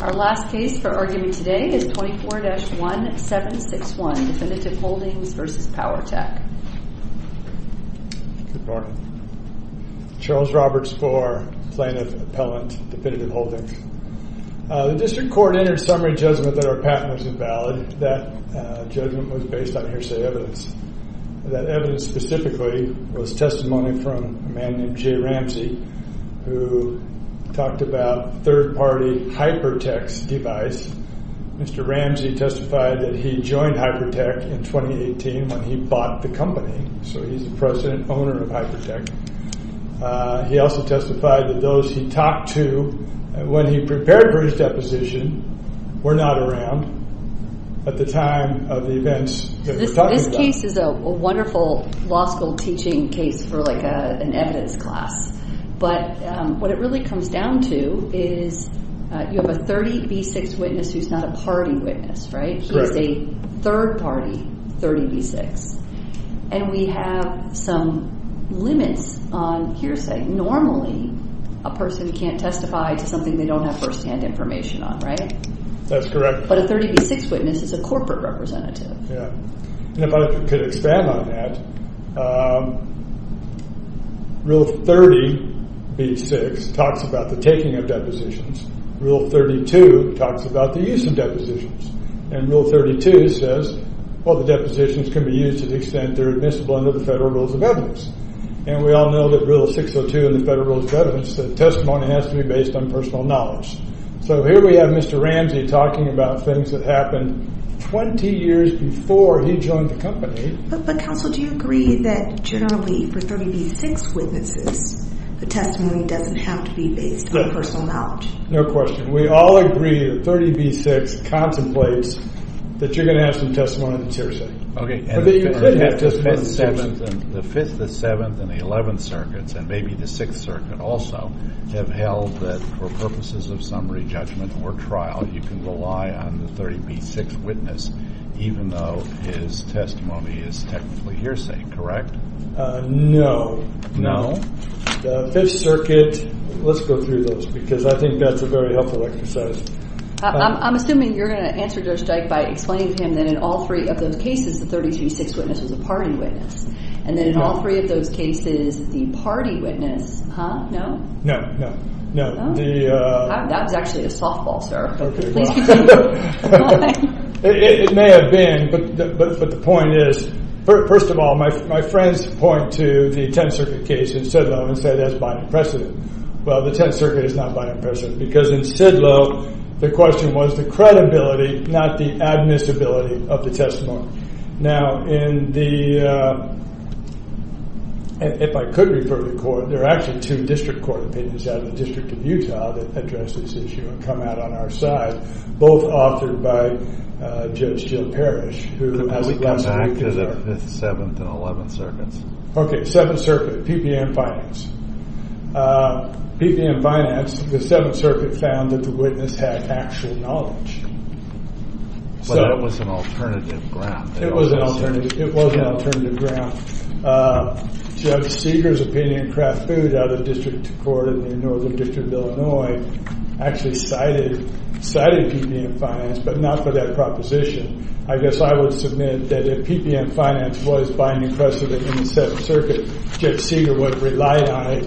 Our last case for argument today is 24-1761 Definitive Holdings v. Powerteq Charles Roberts for Plaintiff Appellant Definitive Holdings The District Court entered a summary judgment that our patent was invalid. That judgment was based on hearsay evidence. That evidence specifically was testimony from a man named Jay Ramsey who talked about third-party Hyperteq's device. Mr. Ramsey testified that he joined Hyperteq in 2018 when he bought the company, so he's the president and owner of Hyperteq. He also testified that those he talked to when he prepared for his deposition were not around at the time of the events that we're talking about. So this case is a wonderful law school teaching case for like an evidence class. But what it really comes down to is you have a 30B6 witness who's not a party witness, right? He's a third-party 30B6, and we have some limits on hearsay. Normally, a person can't testify to something they don't have firsthand information on, right? That's correct. But a 30B6 witness is a corporate representative. Yeah, and if I could expand on that, Rule 30B6 talks about the taking of depositions. Rule 32 talks about the use of depositions. And Rule 32 says, well, the depositions can be used to the extent they're admissible under the Federal Rules of Evidence. And we all know that Rule 602 in the Federal Rules of Evidence said testimony has to be based on personal knowledge. So here we have Mr. Ramsey talking about things that happened 20 years before he joined the company. But counsel, do you agree that generally for 30B6 witnesses, the testimony doesn't have to be based on personal knowledge? No question. We all agree that 30B6 contemplates that you're going to have some testimony that's hearsay. Okay. The 5th, the 7th, and the 11th circuits, and maybe the 6th circuit also, have held that for purposes of summary judgment or trial, you can rely on the 30B6 witness even though his testimony is technically hearsay, correct? No. No? The 5th circuit, let's go through those because I think that's a very helpful exercise. I'm assuming you're going to answer Judge Dyke by explaining to him that in all three of those cases, the 30B6 witness was a party witness. And then in all three of those cases, the party witness, huh? No? No, no, no. That was actually a softball, sir. It may have been, but the point is, first of all, my friends point to the 10th circuit case in Sidlo and say that's by precedent. Well, the 10th circuit is not by precedent because in Sidlo, the question was the credibility, not the admissibility of the testimony. Now, in the, if I could refer to the court, there are actually two district court opinions out of the District of Utah that address this issue and come out on our side, both authored by Judge Jill Parrish. Could we come back to the 5th, 7th, and 11th circuits? Okay, 7th circuit, PPM Finance. PPM Finance, the 7th circuit found that the witness had actual knowledge. But it was an alternative ground. It was an alternative ground. Judge Seeger's opinion, Kraft Food, out of District Court in Northern District of Illinois, actually cited PPM Finance, but not for that proposition. I guess I would submit that if PPM Finance was by necessity in the 7th circuit, Judge Seeger would have relied on it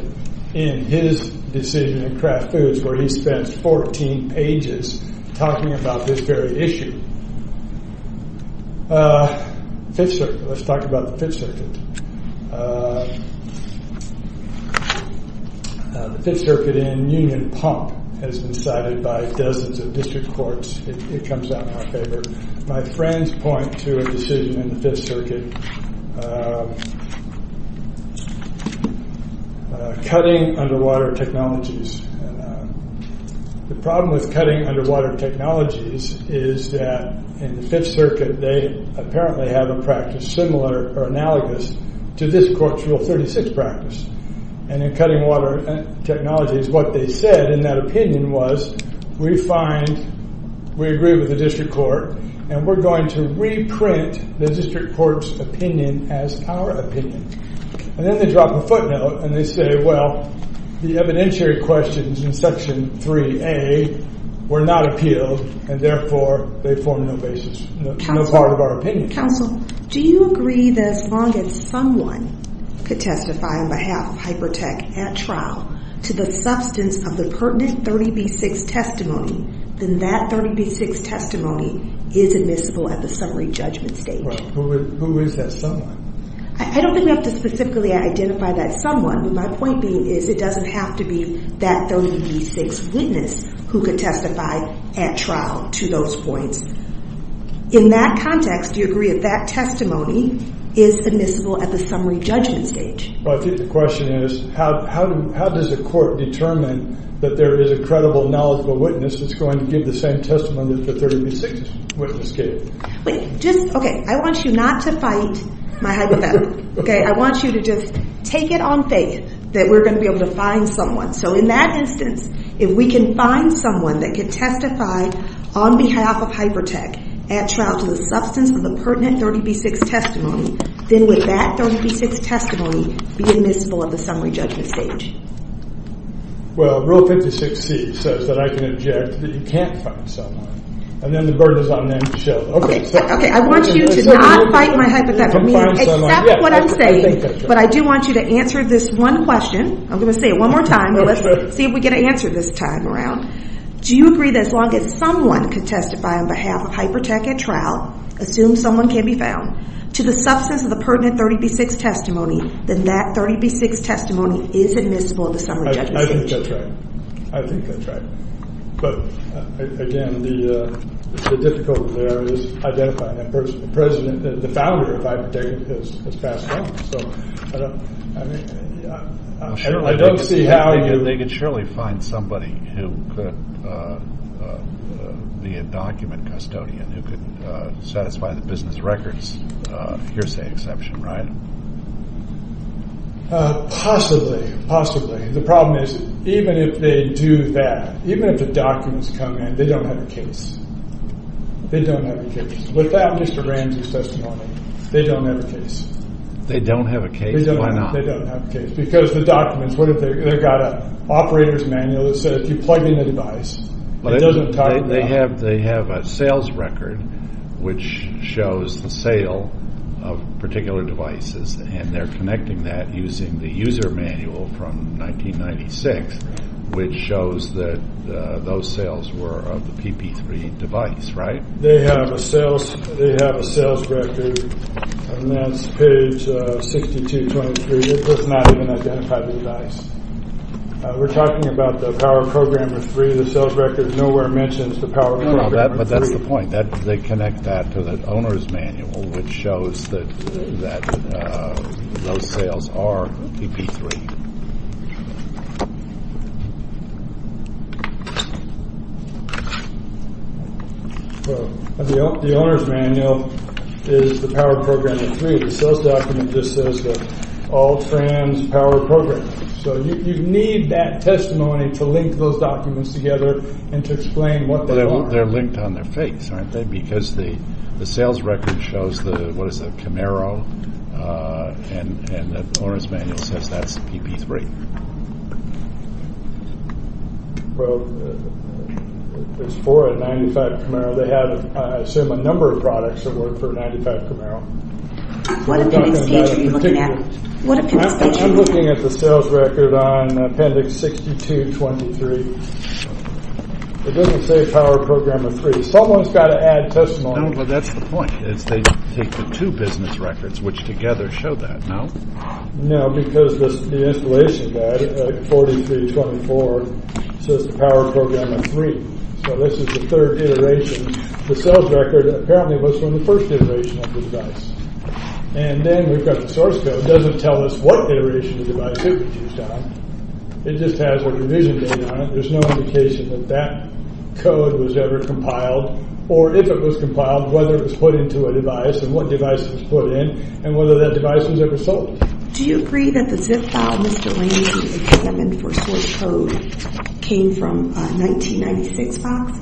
in his decision in Kraft Foods where he spent 14 pages talking about this very issue. 5th circuit, let's talk about the 5th circuit. The 5th circuit in Union Pump has been cited by dozens of district courts. It comes out in our favor. My friends point to a decision in the 5th circuit, cutting underwater technologies. The problem with cutting underwater technologies is that in the 5th circuit, they apparently have a practice similar or analogous to this Court's Rule 36 practice. And in cutting water technologies, what they said in that opinion was, we agree with the district court and we're going to reprint the district court's opinion as our opinion. And then they drop a footnote and they say, well, the evidentiary questions in Section 3A were not appealed and therefore they form no basis, no part of our opinion. Do you agree that as long as someone could testify on behalf of Hypertech at trial to the substance of the pertinent 30B6 testimony, then that 30B6 testimony is admissible at the summary judgment stage? Who is that someone? I don't think we have to specifically identify that someone, but my point being is it doesn't have to be that 30B6 witness who could testify at trial to those points. In that context, do you agree that that testimony is admissible at the summary judgment stage? I think the question is, how does a court determine that there is a credible, knowledgeable witness that's going to give the same testimony that the 30B6 witness gave? I want you not to fight my hypothetical. I want you to just take it on faith that we're going to be able to find someone. So in that instance, if we can find someone that can testify on behalf of Hypertech at trial to the substance of the pertinent 30B6 testimony, then would that 30B6 testimony be admissible at the summary judgment stage? Well, Rule 56C says that I can object that you can't find someone, and then the burden is on them to show. Okay, I want you to not fight my hypothetical. Accept what I'm saying, but I do want you to answer this one question. I'm going to say it one more time, but let's see if we can answer this time around. Do you agree that as long as someone could testify on behalf of Hypertech at trial, assume someone can be found, to the substance of the pertinent 30B6 testimony, then that 30B6 testimony is admissible at the summary judgment stage? I think that's right. I think that's right. But again, the difficulty there is identifying that person. The president, the founder of Hypertech has passed on. I don't see how they could surely find somebody who could be a document custodian who could satisfy the business records. Here's the exception, right? Possibly. Possibly. The problem is, even if they do that, even if the documents come in, they don't have a case. They don't have a case. Without Mr. Ramsey's testimony, they don't have a case. They don't have a case? Why not? They don't have a case. Because the documents, what if they've got an operator's manual that says if you plug in a device, it doesn't talk at all? They have a sales record which shows the sale of particular devices, and they're connecting that using the user manual from 1996, which shows that those sales were of the PP3 device, right? They have a sales record, and that's page 6223. It does not even identify the device. We're talking about the Power Programmer 3. The sales record nowhere mentions the Power Programmer 3. But that's the point. They connect that to the owner's manual, which shows that those sales are PP3. The owner's manual is the Power Programmer 3. The sales document just says that all trans Power Programmers. So you need that testimony to link those documents together and to explain what they are. Well, they're linked on their face, aren't they? Because the sales record shows the Camaro, and the owner's manual says that's PP3. Well, there's four in 95 Camaro. They have, I assume, a number of products that work for 95 Camaro. What appendix page are you looking at? I'm looking at the sales record on appendix 6223. It doesn't say Power Programmer 3. Someone's got to add testimony. No, but that's the point. They take the two business records, which together show that, no? No, because the installation guide at 4324 says the Power Programmer 3. So this is the third iteration. The sales record apparently was from the first iteration of the device. And then we've got the source code. It doesn't tell us what iteration of the device it was used on. It just has a revision date on it. There's no indication that that code was ever compiled. Or if it was compiled, whether it was put into a device, and what device it was put in, and whether that device was ever sold. Do you agree that the zip file, Mr. Lanezy 87, for source code came from a 1996 box?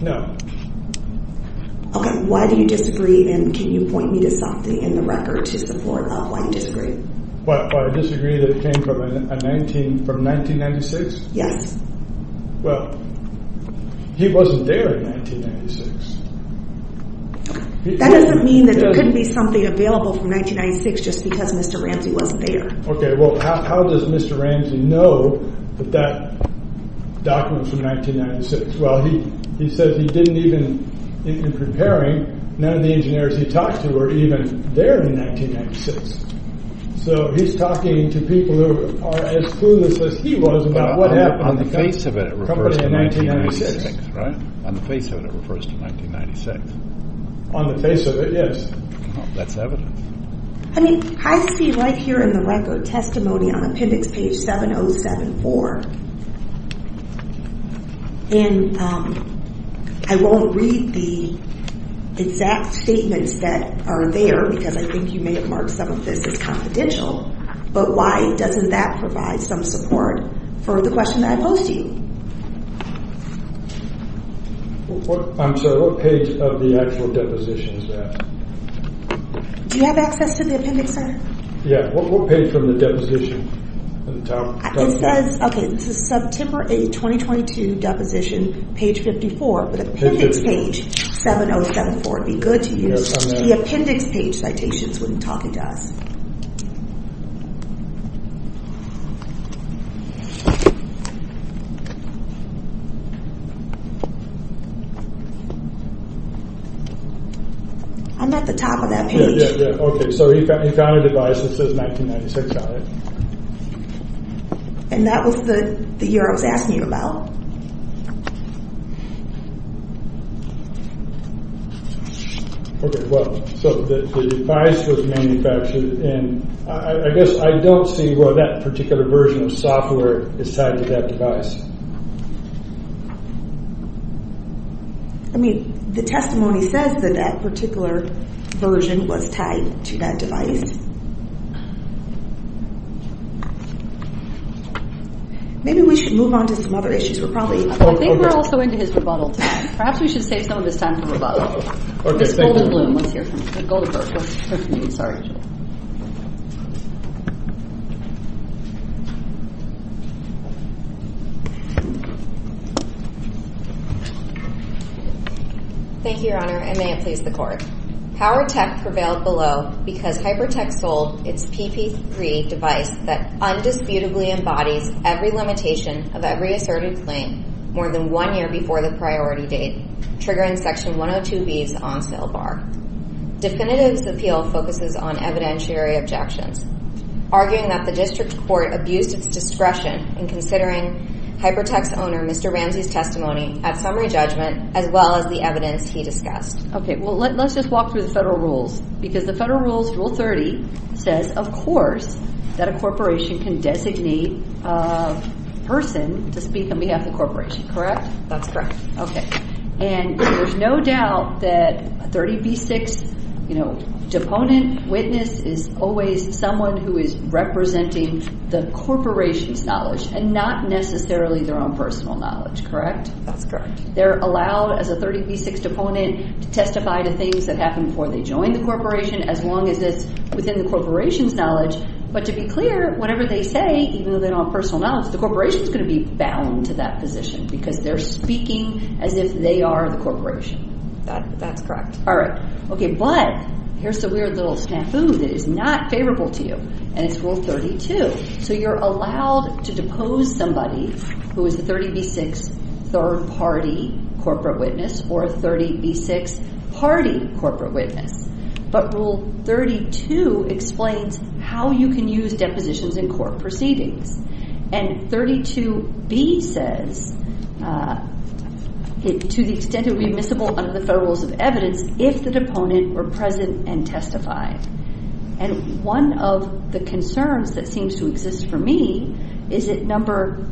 No. Okay, why do you disagree, and can you point me to something in the record to support why you disagree? Why I disagree that it came from 1996? Yes. Well, he wasn't there in 1996. That doesn't mean that there couldn't be something available from 1996 just because Mr. Ramsey wasn't there. Okay, well, how does Mr. Ramsey know that that document's from 1996? Well, he says he didn't even, in preparing, none of the engineers he talked to were even there in 1996. So he's talking to people who are as clueless as he was about what happened. On the face of it, it refers to 1996, right? On the face of it, it refers to 1996. On the face of it, yes. That's evidence. I mean, I see right here in the record testimony on appendix page 7074. And I won't read the exact statements that are there because I think you may have marked some of this as confidential. But why doesn't that provide some support for the question that I posed to you? I'm sorry, what page of the actual deposition is that? Do you have access to the appendix, sir? Yeah, what page from the deposition? It says, okay, this is September 8, 2022, deposition, page 54, but appendix page 7074. It would be good to use the appendix page citations when talking to us. I'm at the top of that page. Okay, so he found a device that says 1996 on it. And that was the year I was asking you about. Okay, so the device was manufactured in, I guess I don't see why that particular version of software is tied to that device. I mean, the testimony says that that particular version was tied to that device. Maybe we should move on to some other issues. I think we're also into his rebuttal time. Perhaps we should save some of this time for rebuttal. Okay, thank you. Let's hear from Goldberg. Let's hear from you, sorry. Ms. Goldberg. Thank you, Your Honor, and may it please the Court. PowerTech prevailed below because HyperTech sold its PP3 device that undisputably embodies every limitation of every asserted claim more than one year before the priority date, triggering Section 102B's on-sale bar. Definitive's appeal focuses on evidentiary objections, arguing that the district court abused its discretion in considering HyperTech's owner, Mr. Ramsey's, testimony at summary judgment, as well as the evidence he discussed. Okay, well, let's just walk through the federal rules. Because the federal rules, Rule 30, says, of course, that a corporation can designate a person to speak on behalf of the corporation, correct? That's correct. Okay, and there's no doubt that a 30B6, you know, deponent witness is always someone who is representing the corporation's knowledge and not necessarily their own personal knowledge, correct? That's correct. They're allowed, as a 30B6 deponent, to testify to things that happened before they joined the corporation, as long as it's within the corporation's knowledge. But to be clear, whatever they say, even though they don't have personal knowledge, the corporation's going to be bound to that position because they're speaking as if they are the corporation. That's correct. All right, okay, but here's the weird little snafu that is not favorable to you, and it's Rule 32. So you're allowed to depose somebody who is a 30B6 third-party corporate witness or a 30B6 party corporate witness. But Rule 32 explains how you can use depositions in court proceedings. And 32B says, to the extent it would be admissible under the Federal Rules of Evidence if the deponent were present and testified. And one of the concerns that seems to exist for me is that Number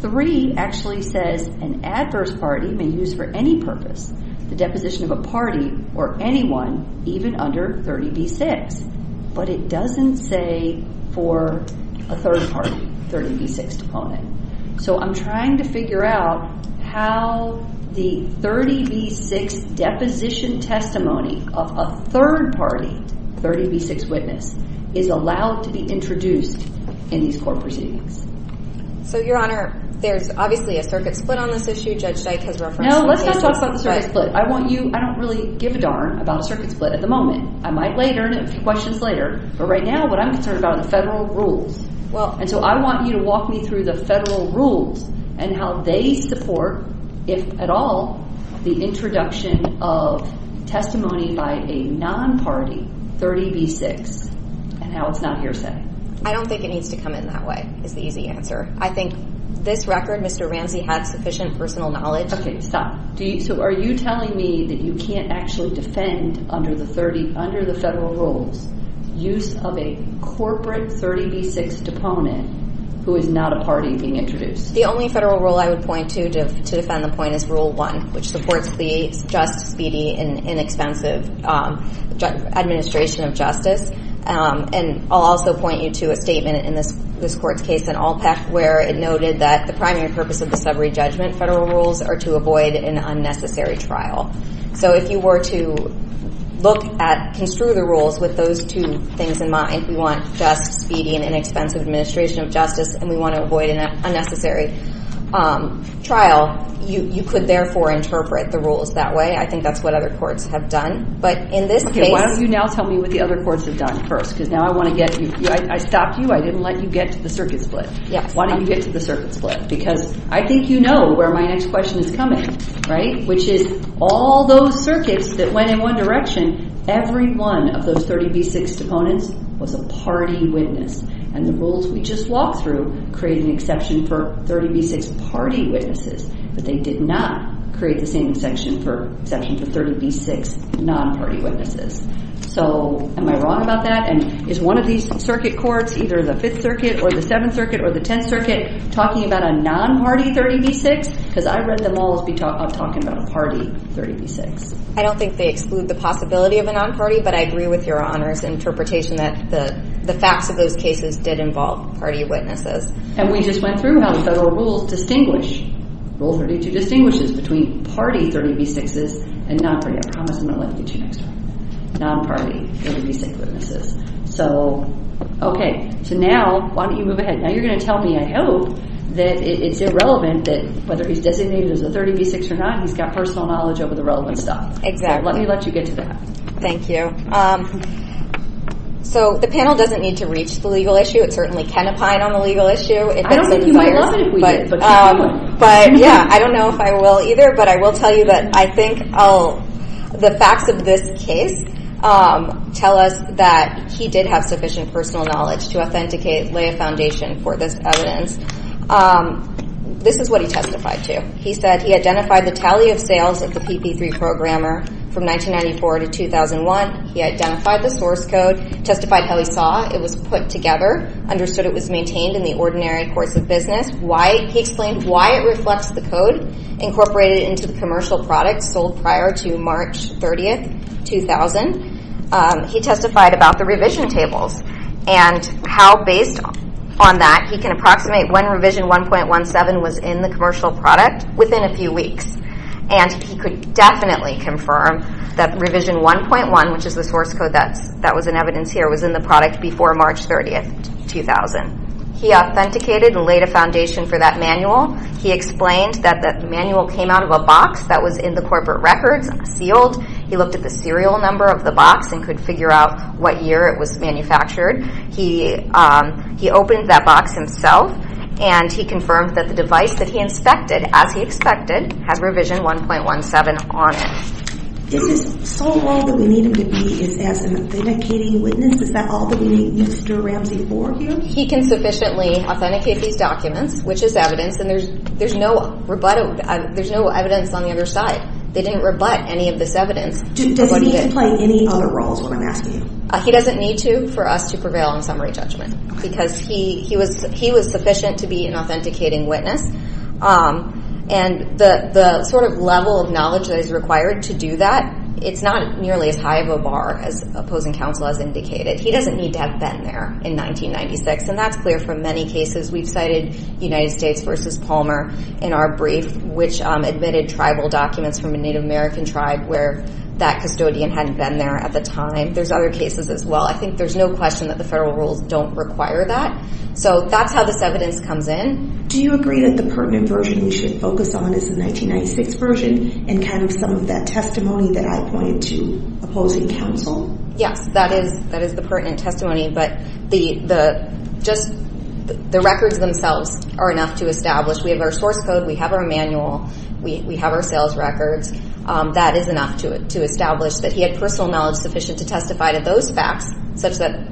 3 actually says an adverse party may use for any purpose the deposition of a party or anyone, even under 30B6. But it doesn't say for a third party 30B6 deponent. So I'm trying to figure out how the 30B6 deposition testimony of a third-party 30B6 witness is allowed to be introduced in these court proceedings. So, Your Honor, there's obviously a circuit split on this issue. Judge Dyke has referenced the case. No, let's not talk about the circuit split. I want you – I don't really give a darn about a circuit split at the moment. I might later, in a few questions later, but right now what I'm concerned about are the Federal Rules. And so I want you to walk me through the Federal Rules and how they support, if at all, the introduction of testimony by a non-party 30B6 and how it's not hearsay. I don't think it needs to come in that way, is the easy answer. I think this record, Mr. Ramsey, has sufficient personal knowledge. Okay, stop. So are you telling me that you can't actually defend under the Federal Rules use of a corporate 30B6 deponent who is not a party being introduced? The only Federal Rule I would point to to defend the point is Rule 1, which supports the just, speedy, and inexpensive administration of justice. And I'll also point you to a statement in this court's case in Alpec where it noted that the primary purpose of the summary judgment Federal Rules are to avoid an unnecessary trial. So if you were to look at – construe the rules with those two things in mind, we want just, speedy, and inexpensive administration of justice, and we want to avoid an unnecessary trial, you could therefore interpret the rules that way. I think that's what other courts have done. But in this case – I'm going to let you respond first because now I want to get – I stopped you. I didn't let you get to the circuit split. Why didn't you get to the circuit split? Because I think you know where my next question is coming, right? Which is all those circuits that went in one direction, every one of those 30B6 deponents was a party witness. And the rules we just walked through create an exception for 30B6 party witnesses, but they did not create the same exception for 30B6 non-party witnesses. So am I wrong about that? And is one of these circuit courts, either the 5th Circuit or the 7th Circuit or the 10th Circuit, talking about a non-party 30B6? Because I read them all as talking about a party 30B6. I don't think they exclude the possibility of a non-party, but I agree with your Honor's interpretation that the facts of those cases did involve party witnesses. And we just went through how Federal Rules distinguish – Rule 32 distinguishes between party 30B6s and non-party. I promise I'm going to let you get to your next one. Non-party 30B6 witnesses. So, okay. So now, why don't you move ahead. Now you're going to tell me, I hope, that it's irrelevant that whether he's designated as a 30B6 or not, he's got personal knowledge over the relevant stuff. Let me let you get to that. Thank you. So the panel doesn't need to reach the legal issue. It certainly can opine on the legal issue. I don't think you might love it if we did. But yeah, I don't know if I will either, but I will tell you that I think the facts of this case tell us that he did have sufficient personal knowledge to authenticate, lay a foundation for this evidence. This is what he testified to. He said he identified the tally of sales of the PP3 programmer from 1994 to 2001. He identified the source code, testified how he saw it was put together, understood it was maintained in the ordinary course of business. He explained why it reflects the code incorporated into the commercial product sold prior to March 30, 2000. He testified about the revision tables and how, based on that, he can approximate when revision 1.17 was in the commercial product within a few weeks. And he could definitely confirm that revision 1.1, which is the source code that was in evidence here, was in the product before March 30, 2000. He authenticated and laid a foundation for that manual. He explained that that manual came out of a box that was in the corporate records, sealed. He looked at the serial number of the box and could figure out what year it was manufactured. He opened that box himself and he confirmed that the device that he inspected, as he expected, has revision 1.17 on it. Is this all that we need him to be is as an authenticating witness? Is that all that we need Mr. Ramsey for here? He can sufficiently authenticate these documents, which is evidence, and there's no evidence on the other side. They didn't rebut any of this evidence. Does he need to play any other roles when I'm asking you? He doesn't need to for us to prevail on summary judgment because he was sufficient to be an authenticating witness. And the sort of level of knowledge that is required to do that, it's not nearly as high of a bar as opposing counsel has indicated. He doesn't need to have been there in 1996, and that's clear for many cases. We've cited United States v. Palmer in our brief, which admitted tribal documents from a Native American tribe where that custodian hadn't been there at the time. There's other cases as well. I think there's no question that the federal rules don't require that. So that's how this evidence comes in. Do you agree that the pertinent version we should focus on is the 1996 version and kind of some of that testimony that I pointed to opposing counsel? Yes, that is the pertinent testimony, but the records themselves are enough to establish. We have our source code. We have our manual. We have our sales records. That is enough to establish that he had personal knowledge sufficient to testify to those facts such that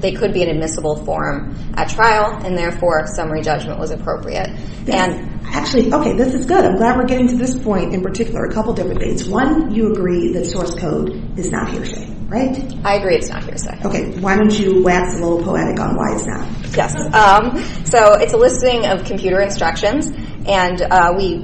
they could be an admissible form at trial, and therefore summary judgment was appropriate. Actually, okay, this is good. I'm glad we're getting to this point. In particular, a couple different things. One, you agree that source code is not hearsay, right? I agree it's not hearsay. Okay. Why don't you wax a little poetic on why it's not? Yes. So it's a listing of computer instructions, and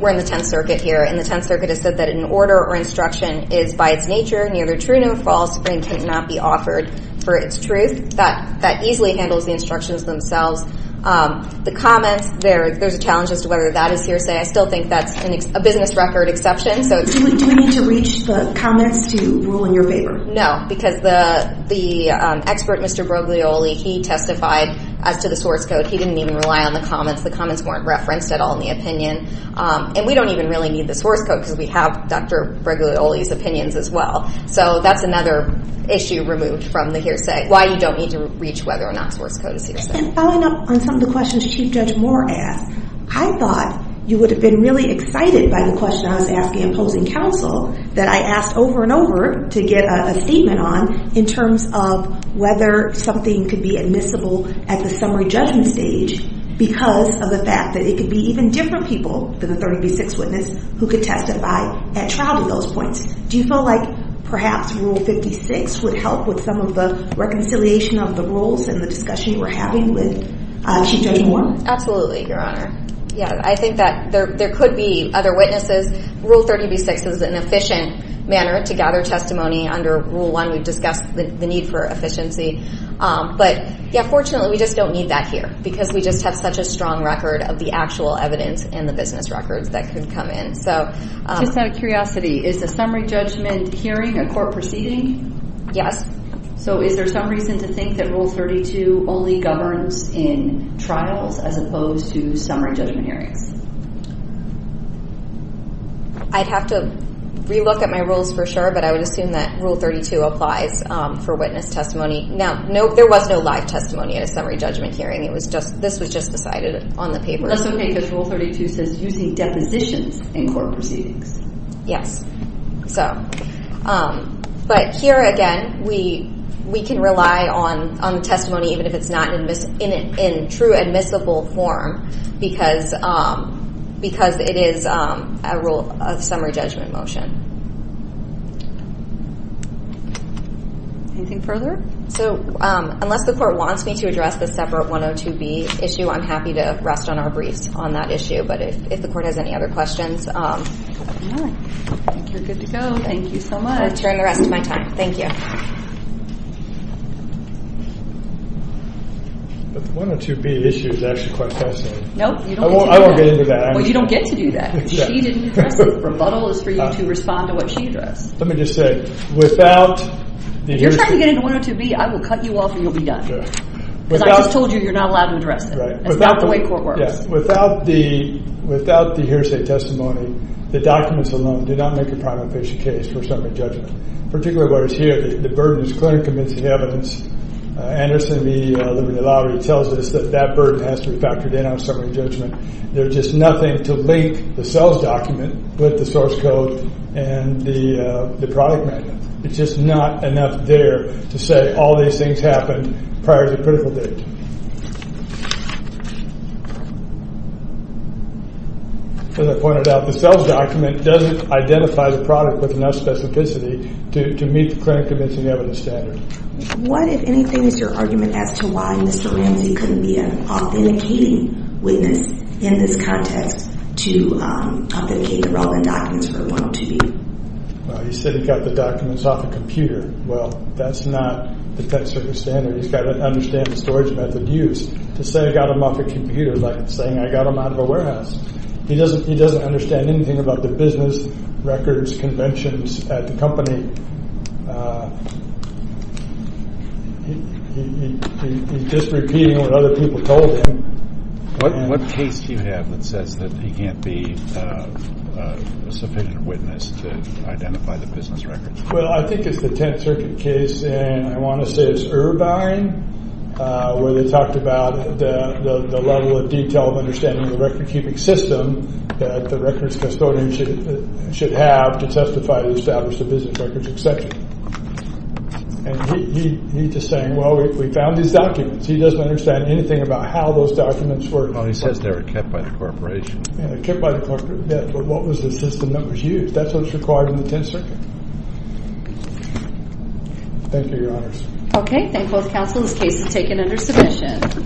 we're in the Tenth Circuit here, and the Tenth Circuit has said that an order or instruction is by its nature, neither true nor false, and cannot be offered for its truth. That easily handles the instructions themselves. The comments, there's a challenge as to whether that is hearsay. I still think that's a business record exception. Do we need to reach the comments to rule in your favor? No, because the expert, Mr. Breglioli, he testified as to the source code. He didn't even rely on the comments. The comments weren't referenced at all in the opinion. And we don't even really need the source code because we have Dr. Breglioli's opinions as well. So that's another issue removed from the hearsay, why you don't need to reach whether or not source code is hearsay. And following up on some of the questions Chief Judge Moore asked, I thought you would have been really excited by the question I was asking in posing counsel that I asked over and over to get a statement on in terms of whether something could be admissible at the summary judgment stage because of the fact that it could be even different people than a 30 v. 6 witness who could testify at trial to those points. Do you feel like perhaps Rule 56 would help with some of the reconciliation of the rules and the discussion you were having with Chief Judge Moore? Absolutely, Your Honor. I think that there could be other witnesses. Rule 30 v. 6 is an efficient manner to gather testimony under Rule 1. We've discussed the need for efficiency. But fortunately, we just don't need that here because we just have such a strong record of the actual evidence and the business records that could come in. Just out of curiosity, is a summary judgment hearing a court proceeding? Yes. So is there some reason to think that Rule 32 only governs in trials as opposed to summary judgment hearings? I'd have to re-look at my rules for sure, but I would assume that Rule 32 applies for witness testimony. Now, there was no live testimony at a summary judgment hearing. This was just decided on the paper. That's okay because Rule 32 says using depositions in court proceedings. Yes. But here again, we can rely on the testimony even if it's not in true admissible form because it is a summary judgment motion. Anything further? So unless the court wants me to address the separate 102B issue, I'm happy to rest on our briefs on that issue. But if the court has any other questions, I'll turn the rest of my time. Thank you. But the 102B issue is actually quite fascinating. No, you don't get to do that. I won't get into that. Well, you don't get to do that because she didn't address it. The rebuttal is for you to respond to what she addressed. Let me just say, without the... If you're trying to get into 102B, I will cut you off and you'll be done because I just told you you're not allowed to address it. That's not the way court works. Without the hearsay testimony, the documents alone do not make a prima facie case for summary judgment, particularly what is here. The burden is clearly convincing evidence. Anderson v. Liberty Law tells us that that burden has to be factored in on summary judgment. There's just nothing to link the CELS document with the source code and the product manual. It's just not enough there to say all these things happened prior to the critical date. As I pointed out, the CELS document doesn't identify the product with enough specificity to meet the clinic convincing evidence standard. What, if anything, is your argument as to why Mr. Ramsey couldn't be an authenticating witness in this context to authenticate the relevant documents for 102B? Well, he said he got the documents off a computer. Well, that's not the Texas Circuit standard. He's got to understand the storage method used. To say I got them off a computer is like saying I got them out of a warehouse. He doesn't understand anything about the business records conventions at the company. He's just repeating what other people told him. What case do you have that says that he can't be a sufficient witness to identify the business records? Well, I think it's the Tenth Circuit case. I want to say it's Irvine where they talked about the level of detail of understanding the record-keeping system that the records custodian should have to testify and establish the business records, etc. He's just saying, well, we found these documents. He doesn't understand anything about how those documents were kept. He says they were kept by the corporation. Kept by the corporation, yes, but what was the system that was used? That's what's required in the Tenth Circuit. Thank you, Your Honors. Okay, thank both counsel. This case is taken under submission.